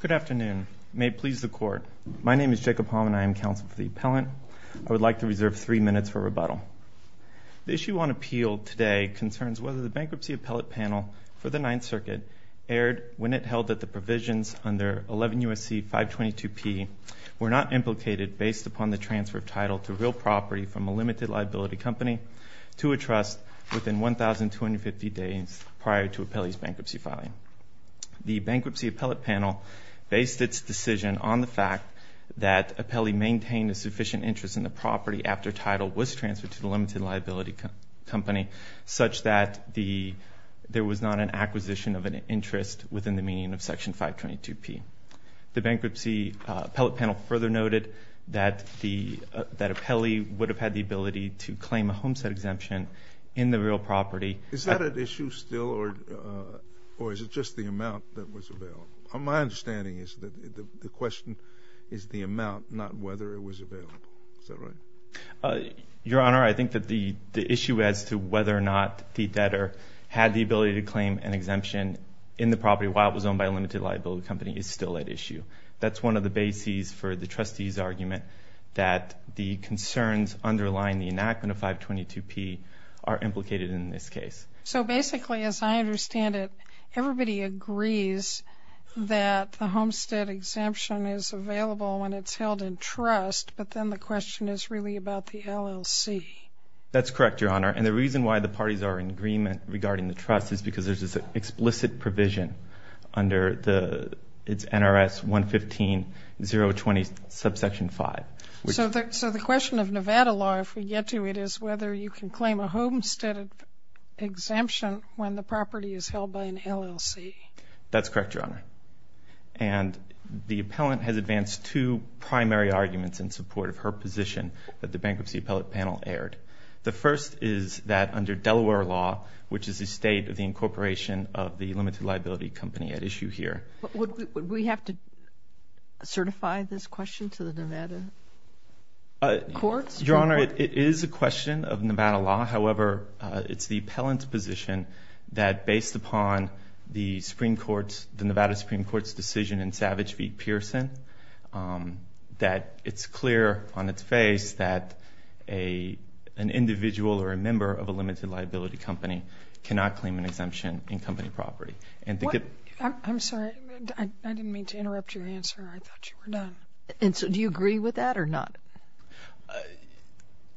Good afternoon. May it please the Court. My name is Jacob Hallman. I am counsel for the appellant. I would like to reserve three minutes for rebuttal. The issue on appeal today concerns whether the bankruptcy appellate panel for the Ninth Circuit erred when it held that the provisions under 11 U.S.C. 522P were not implicated based upon the transfer of title to real property from a limited liability company to a trust within 1,250 days prior to appellee's bankruptcy filing. The bankruptcy appellate panel based its decision on the fact that appellee maintained a sufficient interest in the property after title was transferred to the limited liability company such that there was not an acquisition of an interest within the meaning of Section 522P. The bankruptcy appellate panel further noted that appellee would have had the ability to claim a homestead exemption in the real property. Is that an issue still or is it just the amount that was available? My understanding is that the question is the amount, not whether it was available. Is that right? Your Honor, I think that the issue as to whether or not the debtor had the ability to claim an exemption in the property while it was owned by a limited liability company is still at issue. That's one of the bases for the trustee's argument that the concerns underlying the enactment of 522P are implicated in this case. So basically as I understand it, everybody agrees that the homestead exemption is available when it's held in trust, but then the question is really about the LLC. That's correct, Your Honor. And the reason why the parties are in agreement regarding the trust is because there's this explicit provision under NRS 115-020, subsection 5. So the question of Nevada law, if we get to it, is whether you can claim a homestead exemption when the property is held by an LLC. That's correct, Your Honor. And the appellant has advanced two primary arguments in support of her position that the bankruptcy appellate panel aired. The first is that under Delaware law, which is the state of the incorporation of the limited liability company at issue here. Would we have to certify this question to the Nevada courts? Your Honor, it is a question of Nevada law. However, it's the appellant's position that based upon the Nevada Supreme Court's decision in Savage v. Pearson, that it's clear on its face that an individual or a member of a limited liability company cannot claim an exemption in company property. I'm sorry. I didn't mean to interrupt your answer. I thought you were done. And so do you agree with that or not?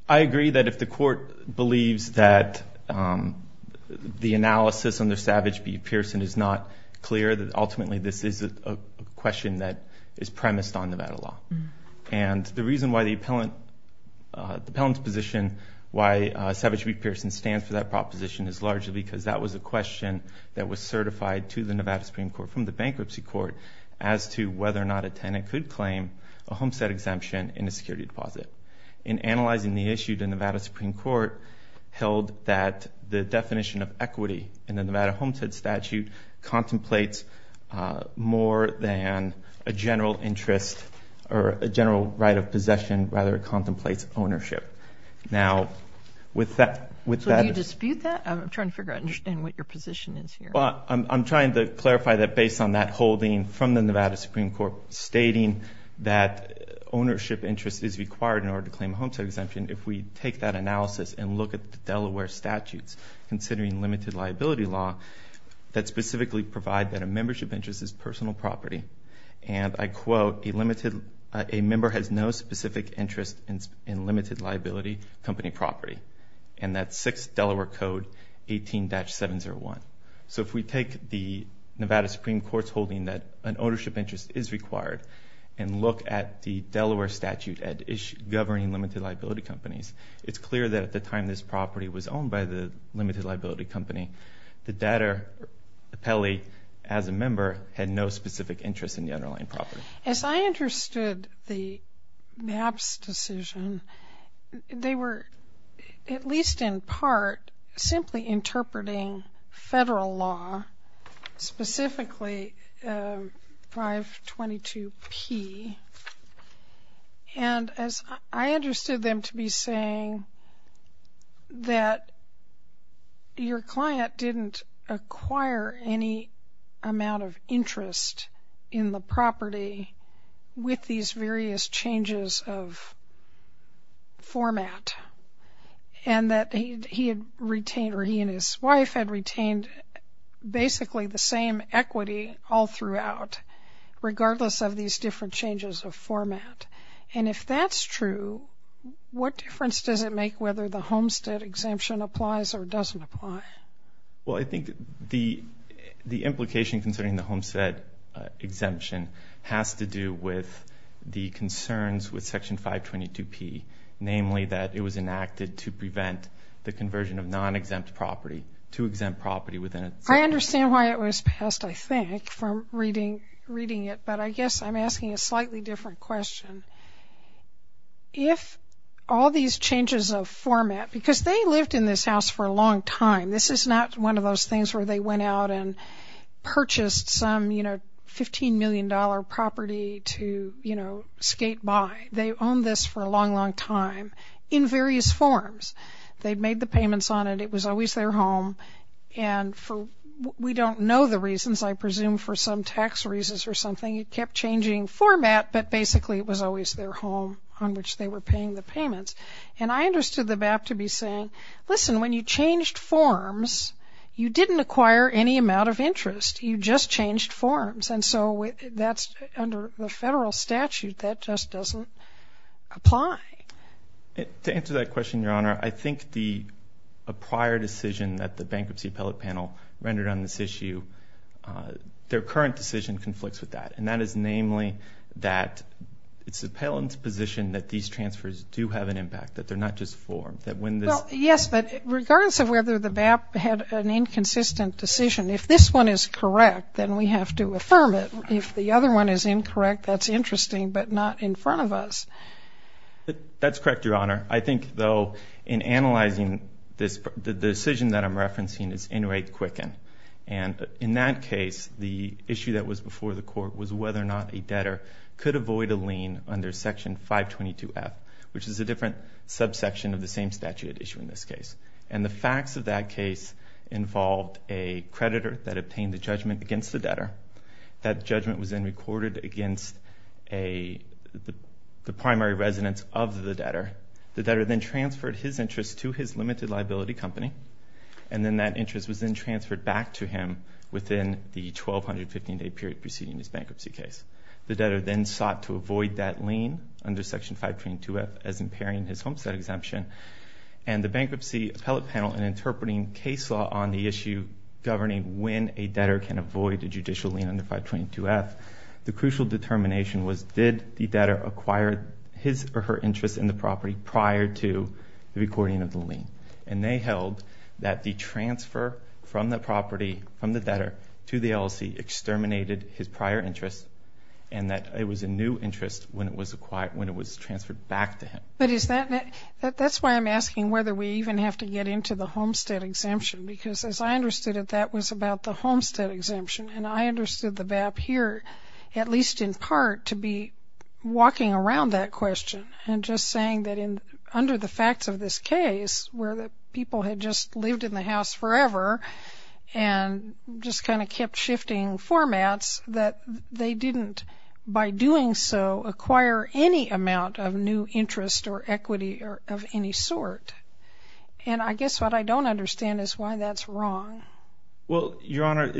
I agree that if the court believes that the analysis under Savage v. Pearson is not clear, that ultimately this is a question that is premised on Nevada law. And the reason why the appellant's position, why Savage v. Pearson stands for that proposition is largely because that was a question that was certified to the Nevada Supreme Court from the bankruptcy court as to whether or not a tenant could claim a homestead exemption in a security deposit. In analyzing the issue, the Nevada Supreme Court held that the definition of equity in the Nevada Homestead Statute contemplates more than a general interest or a general right of possession. Rather, it contemplates ownership. Now, with that... So do you dispute that? I'm trying to figure out and understand what your position is here. Well, I'm trying to clarify that based on that holding from the Nevada Supreme Court stating that ownership interest is required in order to claim a homestead exemption. If we take that analysis and look at the Delaware statutes considering limited liability law that specifically provide that a membership interest is personal property, and I quote, a member has no specific interest in limited liability company property. And that's 6 Delaware Code 18-701. So if we take the Nevada Supreme Court's holding that an ownership interest is required and look at the Delaware statute governing limited liability companies, it's clear that at the time this property was owned by the limited liability company, the data appellee as a member had no specific interest in the underlying property. As I understood the MAPS decision, they were, at least in part, simply interpreting federal law, specifically 522P. And as I understood them to be saying that your client didn't acquire any amount of interest in the property with these various changes of format and that he had retained or he and his wife had retained basically the same equity all throughout, regardless of these different changes of format. And if that's true, what difference does it make whether the homestead exemption applies or doesn't apply? Well, I think the implication concerning the homestead exemption has to do with the concerns with Section 522P, namely that it was enacted to prevent the conversion of non-exempt property to exempt property within it. I understand why it was passed, I think, from reading it, but I guess I'm asking a slightly different question. If all these changes of format, because they lived in this house for a long time, this is not one of those things where they went out and purchased some, you know, $15 million property to, you know, skate by. They owned this for a long, long time in various forms. They made the payments on it, it was always their home, and for, we don't know the reasons, I presume for some tax reasons or something, it kept changing format, but basically it was always their home on which they were paying the payments. And I understood the MAP to be saying, listen, when you changed forms, you didn't acquire any amount of interest, you just changed forms. And so that's, under the federal statute, that just doesn't apply. To answer that question, Your Honor, I think the prior decision that the Bankruptcy Appellate Panel rendered on this issue, their current decision conflicts with that, and that is namely that it's the appellant's position that these transfers do have an impact, that they're not just forms. Yes, but regardless of whether the MAP had an inconsistent decision, if this one is correct, then we have to affirm it. If the other one is incorrect, that's interesting, but not in front of us. That's correct, Your Honor. I think, though, in analyzing this, the decision that I'm referencing is Inmate Quicken. And in that case, the issue that was before the Court was whether or not a debtor could avoid a lien under Section 522F, which is a different subsection of the same statute at issue in this case. And the facts of that case involved a creditor that obtained the judgment against the debtor. That judgment was then recorded against the primary residence of the debtor. The debtor then transferred his interest to his limited liability company, and then that interest was then transferred back to him within the 1,215-day period preceding his bankruptcy case. The debtor then sought to avoid that lien under Section 522F as impairing his homestead exemption. And the Bankruptcy Appellate Panel, in interpreting case law on the issue governing when a debtor can avoid a judicial lien under 522F, the crucial determination was, did the debtor acquire his or her interest in the property prior to the recording of the lien? And they held that the transfer from the property, from the debtor, to the LLC exterminated his prior interest, and that it was a new interest when it was acquired, when it was transferred back to him. But is that, that's why I'm asking whether we even have to get into the homestead exemption, because as I understood it, that was about the homestead exemption. And I understood the BAP here, at least in part, to be walking around that question and just saying that in, under the facts of this case, where the people had just lived in the house forever and just kind of kept shifting formats, that they didn't, by doing so, acquire any amount of new interest or equity of any sort. And I guess what I don't understand is why that's wrong. Well, Your Honor,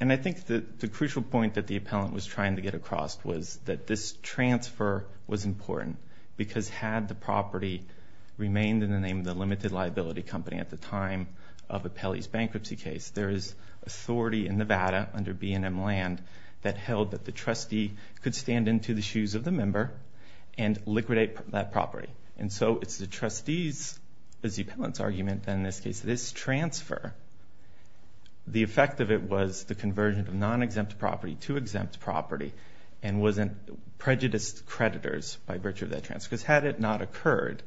and I think that the crucial point that the appellant was trying to get across was that this transfer was important, because had the property remained in the name of the limited liability company at the time of Appelli's bankruptcy case, there is authority in Nevada, under B&M Land, that held that the trustee could stand into the shoes of the member and liquidate that property. And so it's the trustee's, as the appellant's argument, and in this case, this transfer, the effect of it was the conversion of non-exempt property to exempt property and wasn't prejudiced creditors by virtue of that transfer. Because had it not occurred,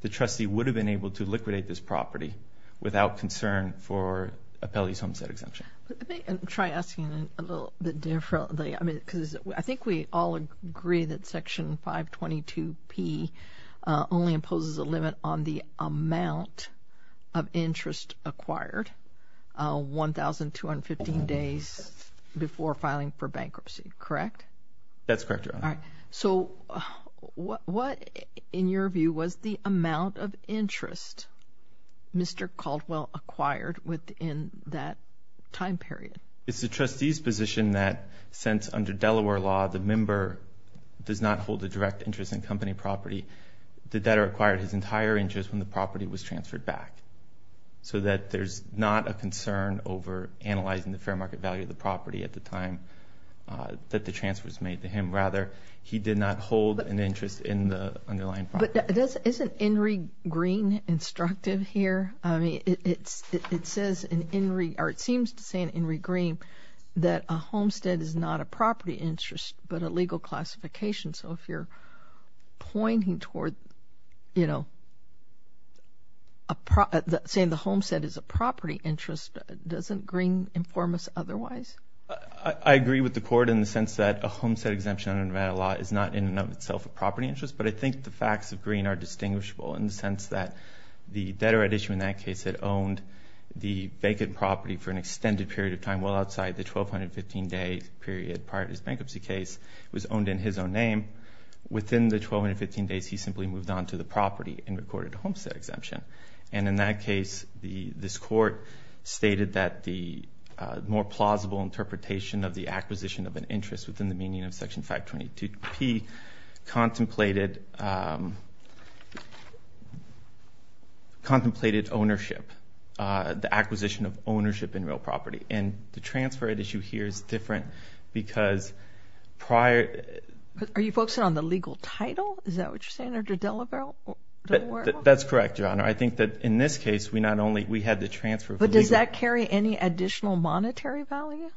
the trustee would have been able to liquidate this property without concern for Appelli's homestead exemption. Let me try asking a little bit differently. I mean, because I think we all agree that Section 522P only imposes a limit on the amount of interest acquired 1,215 days before filing for bankruptcy, correct? That's correct, Your Honor. All right. So what, in your view, was the amount of interest Mr. Caldwell acquired within that time period? It's the trustee's position that, since under Delaware law, the member does not hold a direct interest in company property, the debtor acquired his entire interest when the property was transferred back. So that there's not a concern over analyzing the fair market value of the property at the time that the transfer was made to him. Rather, he did not hold an interest in the underlying property. But isn't Enri Green instructive here? I mean, it says, or it seems to say in Enri Green that a homestead is not a property interest but a legal classification. So if you're pointing toward, you know, saying the homestead is a property interest, doesn't Green inform us otherwise? I agree with the Court in the sense that a homestead exemption under Nevada law is not in and of itself a property interest. But I think the facts of Green are distinguishable in the sense that the debtor at issue in that case had owned the vacant property for an extended period of time well outside the 1,215-day period prior to his bankruptcy case. It was owned in his own name. Within the 1,215 days, he simply moved on to the property and recorded a homestead exemption. And in that case, this Court stated that the more plausible interpretation of the contemplated ownership, the acquisition of ownership in real property. And the transfer at issue here is different because prior... Are you focusing on the legal title? Is that what you're saying? That's correct, Your Honor. I think that in this case, we not only, we had the transfer... But does that carry any additional monetary value?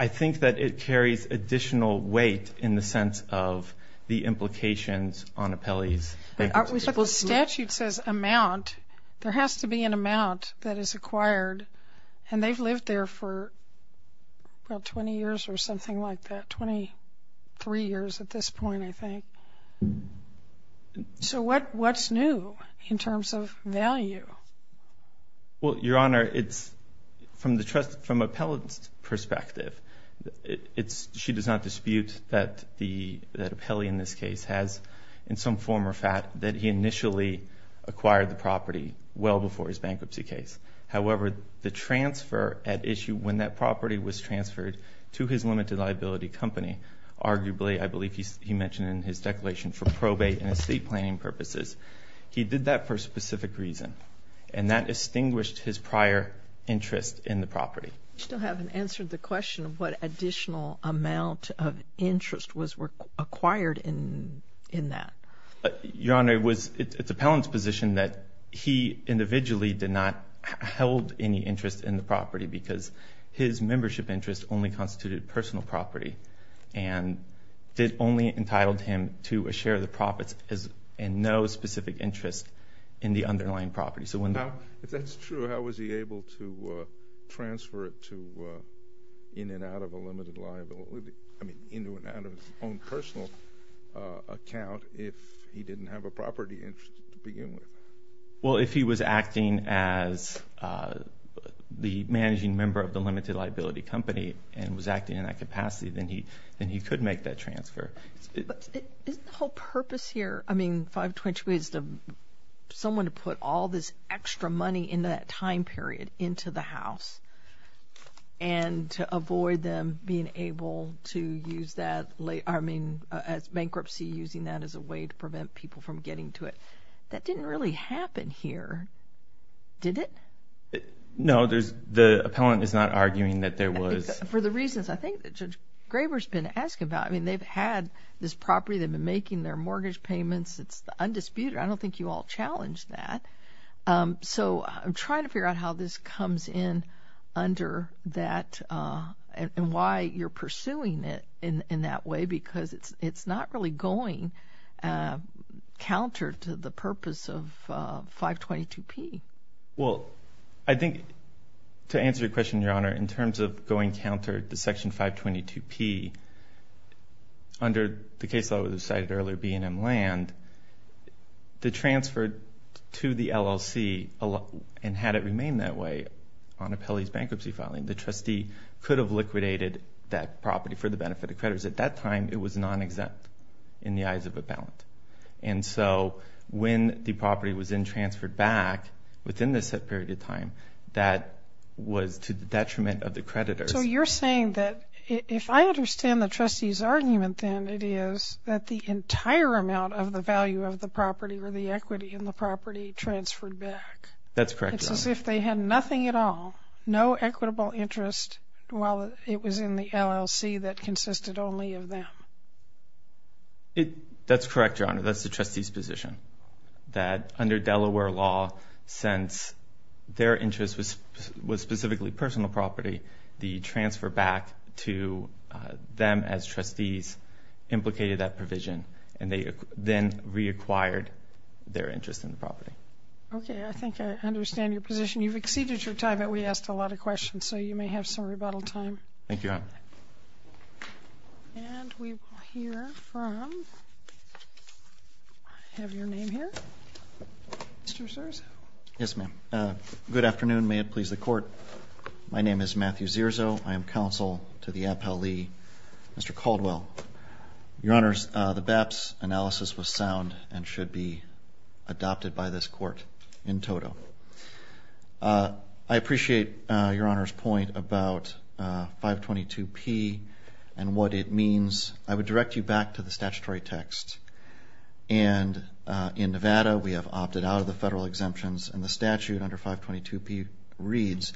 I think that it carries additional weight in the implications on appellees. Well, statute says amount. There has to be an amount that is acquired and they've lived there for about 20 years or something like that, 23 years at this point, I think. So what's new in terms of value? Well, Your Honor, it's from the trust, from appellate's perspective, it's... She does not dispute that the appellee in this case has, in some form or fact, that he initially acquired the property well before his bankruptcy case. However, the transfer at issue when that property was transferred to his limited liability company, arguably, I believe he mentioned in his declaration, for probate and estate planning purposes, he did that for a specific reason. And that distinguished his prior interest in the property. You still haven't answered the question of what additional amount of interest was acquired in that. Your Honor, it's appellant's position that he individually did not held any interest in the property because his membership interest only constituted personal property and it only entitled him to a share of the profits and no specific interest in the underlying property. If that's true, how was he able to transfer it to, in and out of a limited liability, I mean, into and out of his own personal account if he didn't have a property interest to begin with? Well, if he was acting as the managing member of the limited liability company and was acting in that capacity, then he could make that transfer. But isn't the whole purpose here, I mean, 522 is to someone to put all this extra money in that time period into the house and to avoid them being able to use that late, I mean, as bankruptcy using that as a way to prevent people from getting to it. That didn't really happen here, did it? No, there's, the appellant is not arguing that there was. For the reasons I think that Judge Graber's been asking about, I mean, they've had this property, they've been making their mortgage payments, it's undisputed. I don't think you all challenge that. So I'm trying to figure out how this comes in under that and why you're pursuing it in that way because it's not really going counter to the purpose of 522P. Well, I think to answer your question, Your Honor, in terms of going counter to Section 522P, under the case that was cited earlier, B&M Land, the transfer to the LLC, and had it remained that way on appellee's bankruptcy filing, the trustee could have liquidated that property for the benefit of creditors. At that time, it was non-exempt in the eyes of appellant. And so when the property was then transferred back within this set period of time, that was to the detriment of the creditors. So you're saying that if I understand the trustee's argument, then it is that the entire amount of the value of the property or the equity in the property transferred back. That's correct, Your Honor. It's as if they had nothing at all, no equitable interest while it was in the LLC that consisted only of them. That's correct, Your Honor. That's the trustee's position, that under Delaware law, since their interest was specifically personal property, the transfer back to them as trustees implicated that provision, and they then reacquired their interest in the property. Okay, I think I understand your position. You've exceeded your time, but we asked a lot of questions, so you may have some rebuttal time. Thank you, Your Honor. And we will hear from, I have your name here, Mr. Zerzo. Yes, ma'am. Good afternoon. May it please the Court. My name is Matthew Zerzo. I am counsel to the appellee, Mr. Caldwell. Your Honor, the BAP's analysis was sound and should be adopted by this 522P, and what it means, I would direct you back to the statutory text. And in Nevada, we have opted out of the federal exemptions, and the statute under 522P reads,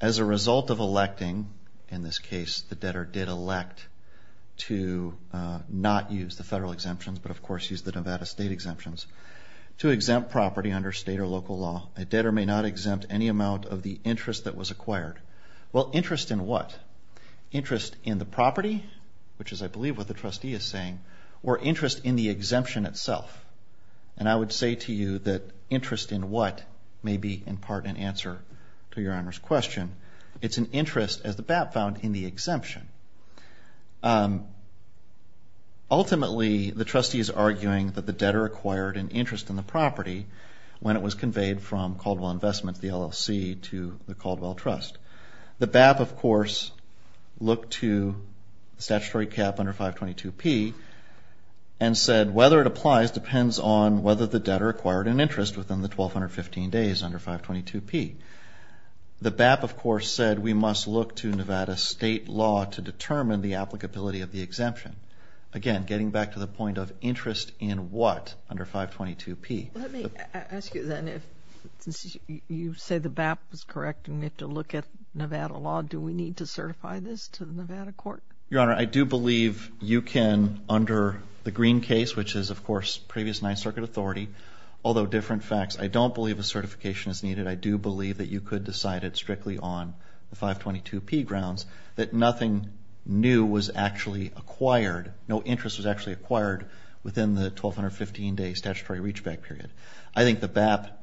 as a result of electing, in this case, the debtor did elect to not use the federal exemptions, but of course use the Nevada state exemptions, to exempt property under state or local law. A debtor may not exempt any amount of the interest that was acquired. Well, interest in interest in the property, which is, I believe, what the trustee is saying, or interest in the exemption itself. And I would say to you that interest in what may be, in part, an answer to Your Honor's question. It's an interest, as the BAP found, in the exemption. Ultimately, the trustee is arguing that the debtor acquired an interest in the property when it was conveyed from Caldwell Investments, the LLC, to the Caldwell Trust. The BAP, of course, looked to the statutory cap under 522P and said whether it applies depends on whether the debtor acquired an interest within the 1,215 days under 522P. The BAP, of course, said we must look to Nevada state law to determine the applicability of the exemption. Again, getting back to the point of you say the BAP was correct and we have to look at Nevada law. Do we need to certify this to the Nevada court? Your Honor, I do believe you can, under the Green case, which is, of course, previous Ninth Circuit authority, although different facts, I don't believe a certification is needed. I do believe that you could decide it strictly on the 522P grounds that nothing new was actually acquired. No interest was actually acquired within the 1,215 day statutory reachback period. I think the BAP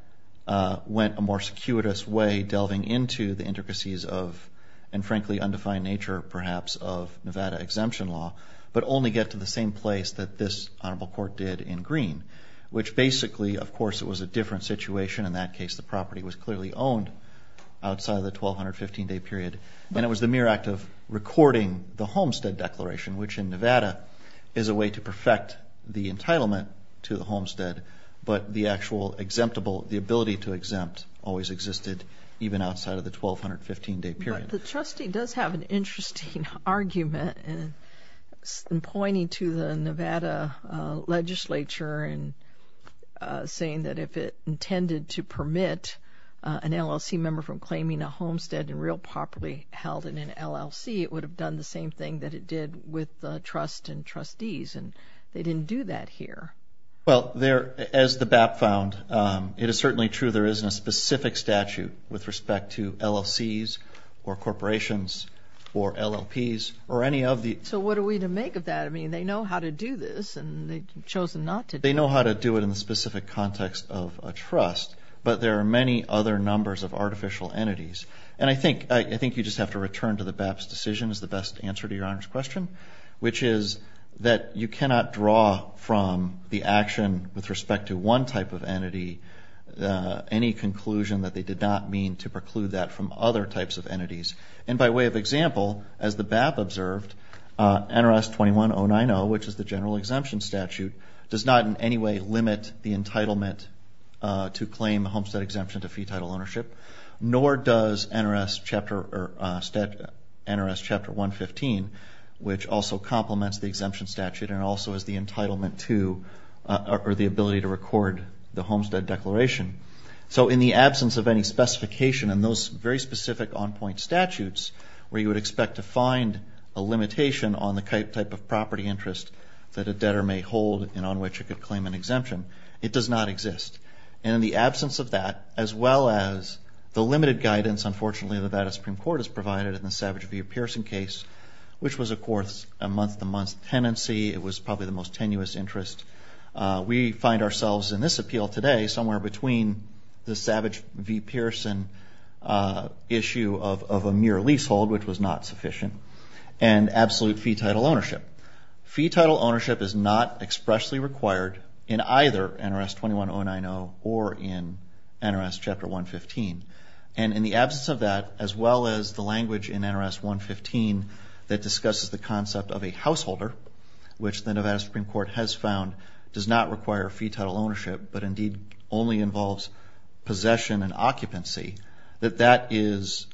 went a more circuitous way delving into the intricacies of, and frankly, undefined nature, perhaps, of Nevada exemption law, but only get to the same place that this honorable court did in Green, which basically, of course, it was a different situation. In that case, the property was clearly owned outside of the 1,215 day period, and it was the mere act of recording the homestead declaration, which in Nevada is a way to perfect the entitlement to the homestead, but the actual the ability to exempt always existed even outside of the 1,215 day period. But the trustee does have an interesting argument in pointing to the Nevada legislature and saying that if it intended to permit an LLC member from claiming a homestead and real properly held in an LLC, it would have done the same thing that it did with the trust and trustees, and they didn't do that here. Well, as the BAP found, it is certainly true there isn't a specific statute with respect to LLCs or corporations or LLPs or any of the... So what are we to make of that? I mean, they know how to do this, and they chose not to do it. They know how to do it in the specific context of a trust, but there are many other numbers of artificial entities. And I think you just have to return to the BAP's decision is the best answer to Your Honor's question, which is that you cannot draw from the action with respect to one type of entity any conclusion that they did not mean to preclude that from other types of entities. And by way of example, as the BAP observed, NRS 21090, which is the general exemption statute, does not in any way limit the entitlement to claim homestead exemption to fee title ownership, nor does NRS Chapter 115, which also complements the exemption statute and also is the entitlement to or the ability to record the homestead declaration. So in the absence of any specification in those very specific on-point statutes, where you would expect to find a limitation on the type of property interest that a debtor may hold and on which it could The limited guidance, unfortunately, the Nevada Supreme Court has provided in the Savage v. Pearson case, which was, of course, a month-to-month tenancy. It was probably the most tenuous interest. We find ourselves in this appeal today somewhere between the Savage v. Pearson issue of a mere leasehold, which was not sufficient, and absolute fee title ownership. Fee title ownership is not expressly required in either NRS 21090 or in NRS Chapter 115. And in the absence of that, as well as the language in NRS 115 that discusses the concept of a householder, which the Nevada Supreme Court has found does not require fee title ownership, but indeed only involves possession and occupancy, that that is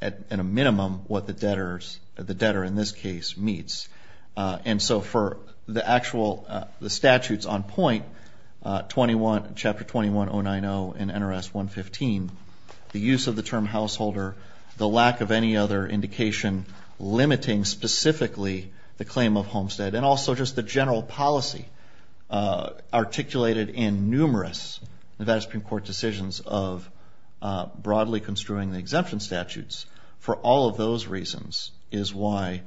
at a minimum what the debtors, the debtor in this case, needs. And so for the actual, the statutes on point, Chapter 21090 in NRS 115, the use of the term householder, the lack of any other indication limiting specifically the claim of homestead, and also just the general policy articulated in numerous Nevada Supreme Court decisions of broadly construing the exemption statutes, for all of those reasons is why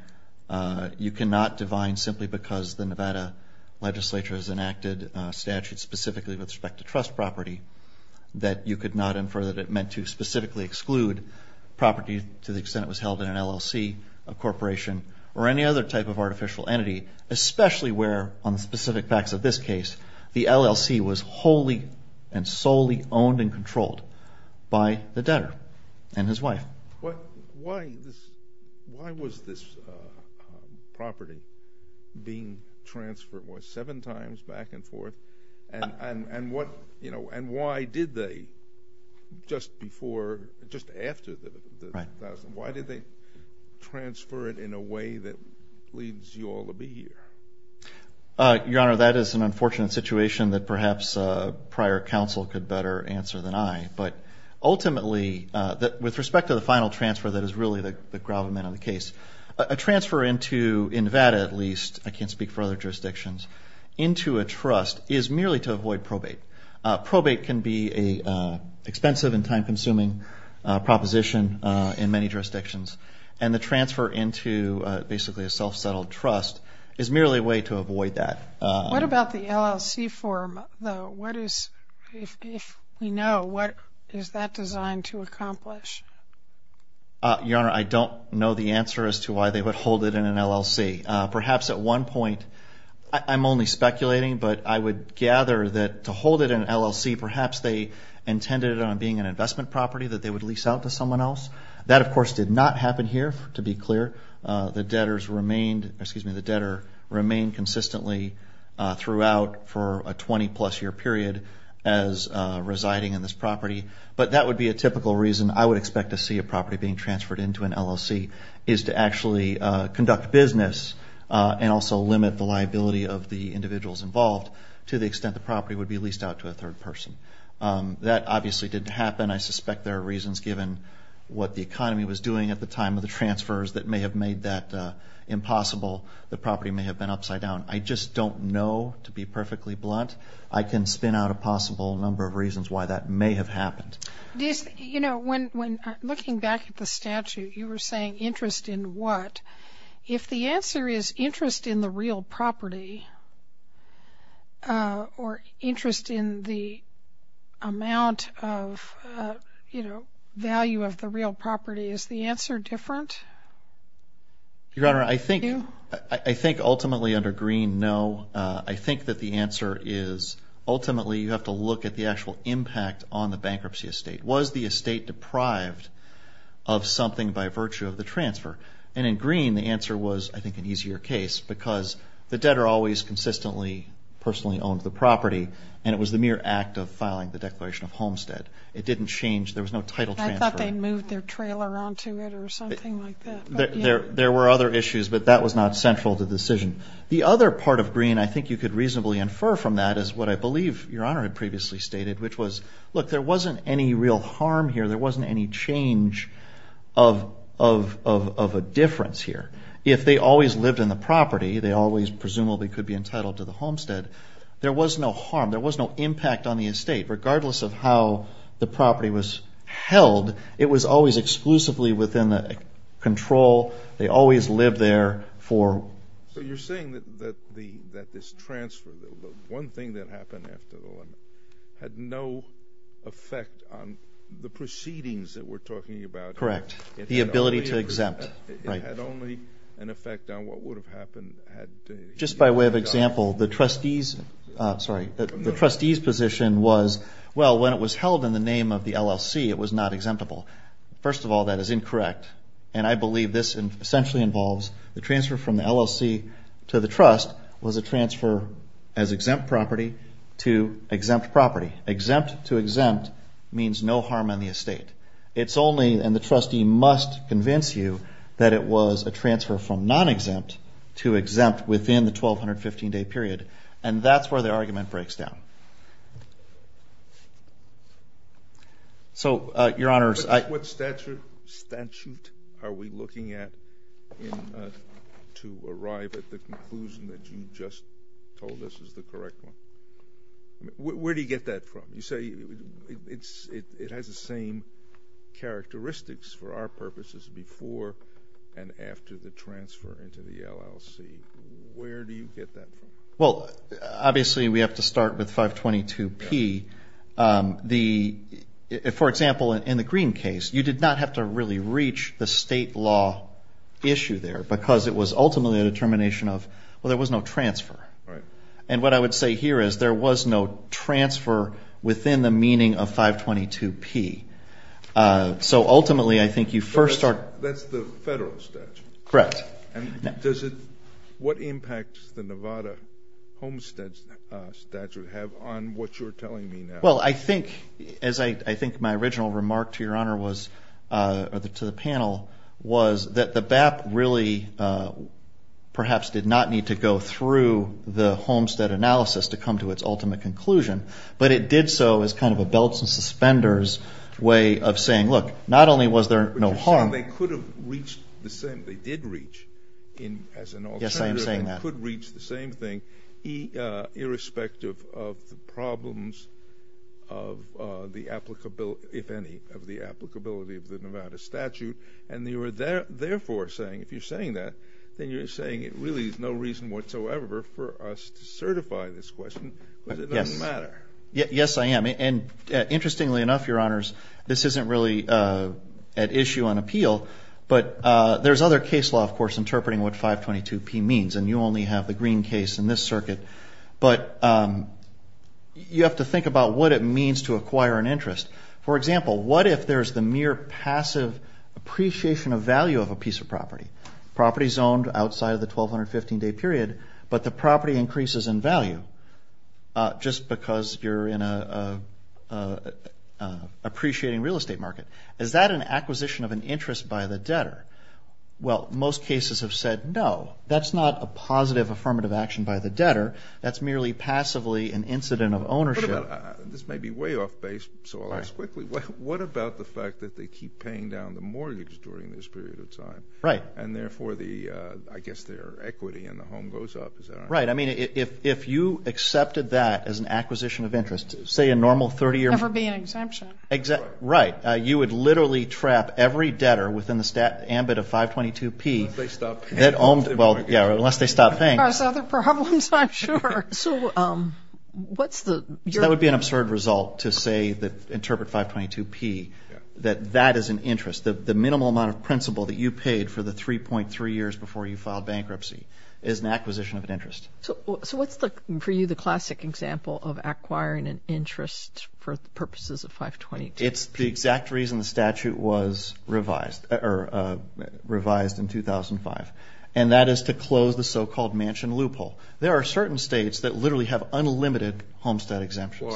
you cannot define simply because the Nevada legislature has enacted statutes specifically with respect to trust property that you could not infer that it meant to specifically exclude property to the extent it was held in an LLC, a corporation, or any other type of artificial entity, especially where, on the specific facts of this case, the LLC was wholly and solely owned and controlled by the debtor and his wife. Why was this property being transferred, what, seven times back and forth? And why did they, just before, just after, why did they transfer it in a way that leads you all to be here? Your Honor, that is an unfortunate situation that perhaps prior counsel could better answer than I. But ultimately, with respect to the final transfer that is really the gravamen of the case, a transfer into, in Nevada at least, I can't speak for other jurisdictions, into a trust is merely to avoid probate. Probate can be an expensive and self-settled trust. It's merely a way to avoid that. What about the LLC form, though? If we know, what is that designed to accomplish? Your Honor, I don't know the answer as to why they would hold it in an LLC. Perhaps at one point, I'm only speculating, but I would gather that to hold it in an LLC, perhaps they intended it on being an investment property that they would lease out to the debtor, remain consistently throughout for a 20-plus year period as residing in this property. But that would be a typical reason I would expect to see a property being transferred into an LLC, is to actually conduct business and also limit the liability of the individuals involved, to the extent the property would be leased out to a third person. That obviously didn't happen. I suspect there are reasons, given what the economy was doing at the time of the transfers, that may have made that impossible. The property may have been upside down. I just don't know, to be perfectly blunt. I can spin out a possible number of reasons why that may have happened. You know, when looking back at the statute, you were saying interest in what? If the answer is interest in the real property, or interest in the amount of, you know, value of the real property, is the answer different? Your Honor, I think ultimately under Greene, no. I think that the answer is, ultimately, you have to look at the actual impact on the bankruptcy estate. Was the estate deprived of something by virtue of the transfer? And in Greene, the answer was, I think, an easier case, because the debtor always consistently personally owned the property, and it was the mere act of change. There was no title transfer. I thought they moved their trailer onto it, or something like that. There were other issues, but that was not central to the decision. The other part of Greene, I think you could reasonably infer from that, is what I believe Your Honor had previously stated, which was, look, there wasn't any real harm here. There wasn't any change of a difference here. If they always lived in the property, they always presumably could be entitled to the homestead. There was no harm. There was no impact on the estate, regardless of how the property was held. It was always exclusively within the control. They always lived there for... So you're saying that this transfer, the one thing that happened after the one, had no effect on the proceedings that we're talking about? Correct. The ability to exempt. It had only an effect on what would have happened had... Just by way of example, the trustees... Sorry. The trustees' position was, well, when it was held in the name of the LLC, it was not exemptable. First of all, that is incorrect, and I believe this essentially involves the transfer from the LLC to the trust was a transfer as exempt property to exempt property. Exempt to exempt means no harm on the estate. It's only, and the trustee must convince you, that it was a transfer from non-exempt to exempt within the 1,215-day period, and that's where the argument breaks down. So, Your Honors, I... What statute are we looking at to arrive at the conclusion that you just told us is the correct one? Where do you get that from? You say it has the same characteristics for our purposes before and after the transfer into the LLC. Where do you get that from? Well, obviously, we have to start with 522P. For example, in the Green case, you did not have to really reach the state law issue there, because it was ultimately a determination of, well, there was no transfer. And what I would say here is there was no transfer within the meaning of 522P. So, ultimately, I think you first start... That's the federal statute. Correct. Does it... What impact does the Nevada homestead statute have on what you're telling me now? Well, I think, as I think my original remark to Your Honor was, or to the panel, was that the BAP really perhaps did not need to go through the homestead analysis to come to its ultimate conclusion, but it did so as kind of a belts and suspenders way of saying, look, not only was there no harm... But you're saying they could have reached the same, they did reach, as an alternative... Yes, I am saying that. ...could reach the same thing, irrespective of the problems of the applicability, if any, of the applicability of the Nevada statute. And you are therefore saying, if you're saying that, then you're saying it really is no reason whatsoever for us to certify this question, because it doesn't matter. Yes, I am. And interestingly enough, Your Honors, this isn't really at issue on appeal, but there's other case law, of course, interpreting what 522P means, and you only have the green case in this circuit, but you have to think about what it means to acquire an interest. For example, what if there's the mere passive appreciation of value of a piece of property, property zoned outside of the 1,215-day period, but the property increases in value, just because you're in a appreciating real estate market? Is that an acquisition of an interest by the debtor? Well, most cases have said, no, that's not a positive affirmative action by the debtor. That's merely passively an incident of ownership. This may be way off base, so I'll ask quickly. What about the fact that they keep paying down the mortgage during this period of time, and therefore, I guess their equity in the home goes up? Is that right? Right. I mean, if you accepted that as an acquisition of interest, say a normal 30-year- There would never be an exemption. Right. You would literally trap every debtor within the ambit of 522P. Unless they stop paying. Well, yeah, unless they stop paying. There's other problems, I'm sure. That would be an absurd result to interpret 522P, that that is an interest. The minimal amount of principal that you paid for the 3.3 years before you filed bankruptcy is an acquisition of an interest. So what's, for you, the classic example of acquiring an interest for purposes of 522P? It's the exact reason the statute was revised in 2005, and that is to close the so-called mansion loophole. There are certain states that literally have unlimited homestead exemptions.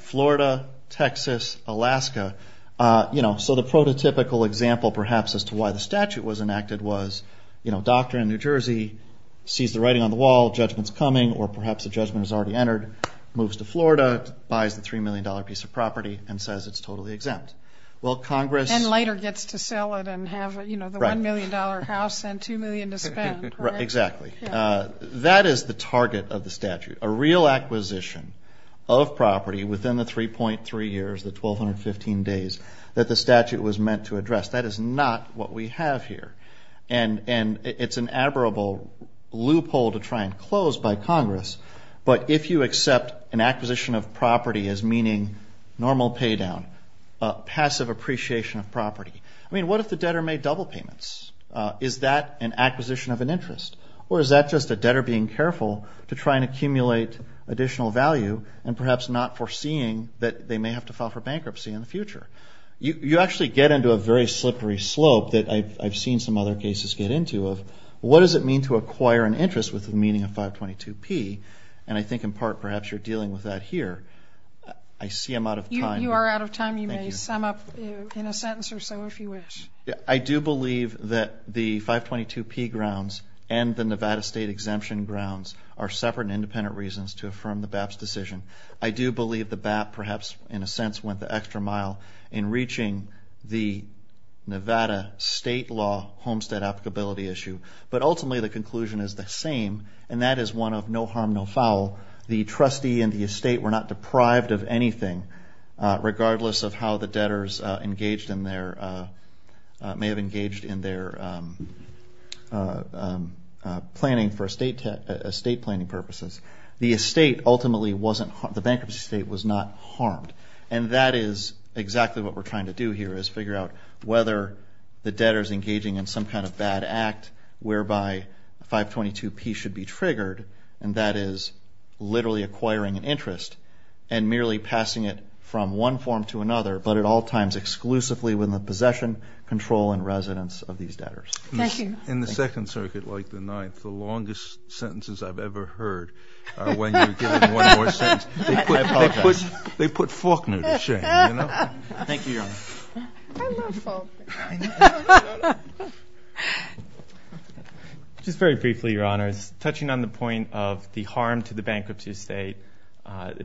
Florida. Texas. Alaska. So the prototypical example, perhaps, as to why the statute was enacted was a doctor in New Jersey sees the writing on the wall, a judgment's coming, or perhaps a judgment has already entered, moves to Florida, buys the $3 million piece of property, and says it's totally exempt. Well, Congress- And later gets to sell it and have the $1 million house and $2 million to spend. Exactly. That is the target of the statute, a real acquisition of property within the 3.3 years, the 1,215 days that the statute was meant to address. That is not what we have here, and it's an admirable loophole to try and close by Congress, but if you accept an acquisition of property as meaning normal paydown, passive appreciation of property, I mean, what if the debtor made double payments? Is that an acquisition of an interest? Or is that just a debtor being careful to try and accumulate additional value and perhaps not foreseeing that they may have to file for bankruptcy in the future? You actually get into a very slippery slope that I've seen some other cases get into of what does it mean to acquire an interest with the meaning of 522P, and I think in part perhaps you're dealing with that here. I see I'm out of time. You are out of time. You may sum up in a sentence or so if you wish. I do believe that the 522P grounds and the Nevada state exemption grounds are separate and independent reasons to affirm the BAP's decision. I do believe the BAP perhaps in a sense went the extra mile in reaching the Nevada state law homestead applicability issue, but ultimately the conclusion is the same, and that is one of no harm, no foul. The trustee and the estate were not deprived of anything, regardless of how the debtors engaged in their, may have engaged in their planning for estate planning purposes. The estate ultimately wasn't, the bankruptcy estate was not harmed, and that is exactly what we're trying to do here is figure out whether the debtor's engaging in some kind of bad act whereby 522P should be triggered, and that is literally acquiring an interest and merely passing it from one form to another, but at all times exclusively with the possession, control, and residence of these debtors. Thank you. In the Second Circuit, like the Ninth, the longest sentences I've ever heard are when you're given one more sentence. I apologize. They put Faulkner to shame, you know? Thank you, Your Honor. I love Faulkner. Just very briefly, Your Honor, touching on the point of the harm to the bankruptcy estate,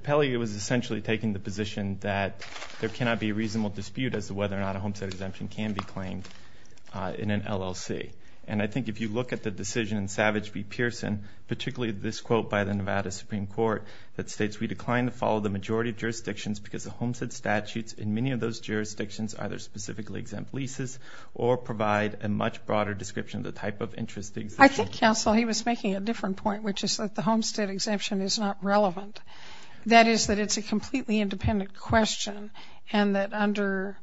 Pelley was essentially taking the position that there cannot be a reasonable dispute as to whether or not a homestead exemption can be claimed in an LLC, and I think if you look at the decision in Savage v. Pearson, particularly this quote by the Nevada Supreme Court that states, we decline to follow the majority of jurisdictions because the homestead statutes in many of those jurisdictions either specifically exempt leases or provide a much broader description of the type of interest that exists. I think, Counsel, he was making a different point, which is that the homestead exemption is not relevant. That is that it's a completely independent question and that under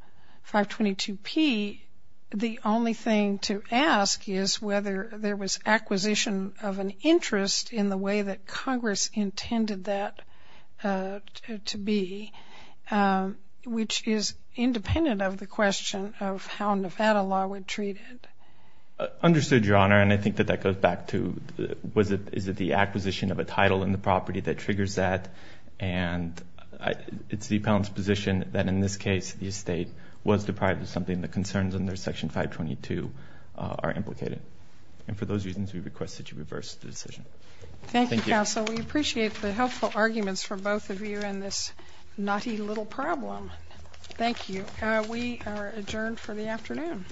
522P, the only thing to ask is whether there was acquisition of an interest in the way that Congress intended that to be, which is independent of the question of how Nevada law would treat it. Understood, Your Honor, and I think that that goes back to, was it, is it the acquisition of a title in the property that triggers that, and it's the appellant's position that in this case, the estate was deprived of something. The concerns under Section 522 are implicated, and for those reasons, we request that you reverse the decision. Thank you, Counsel. We appreciate the helpful arguments from both of you in this naughty little problem. Thank you. We are adjourned for the afternoon.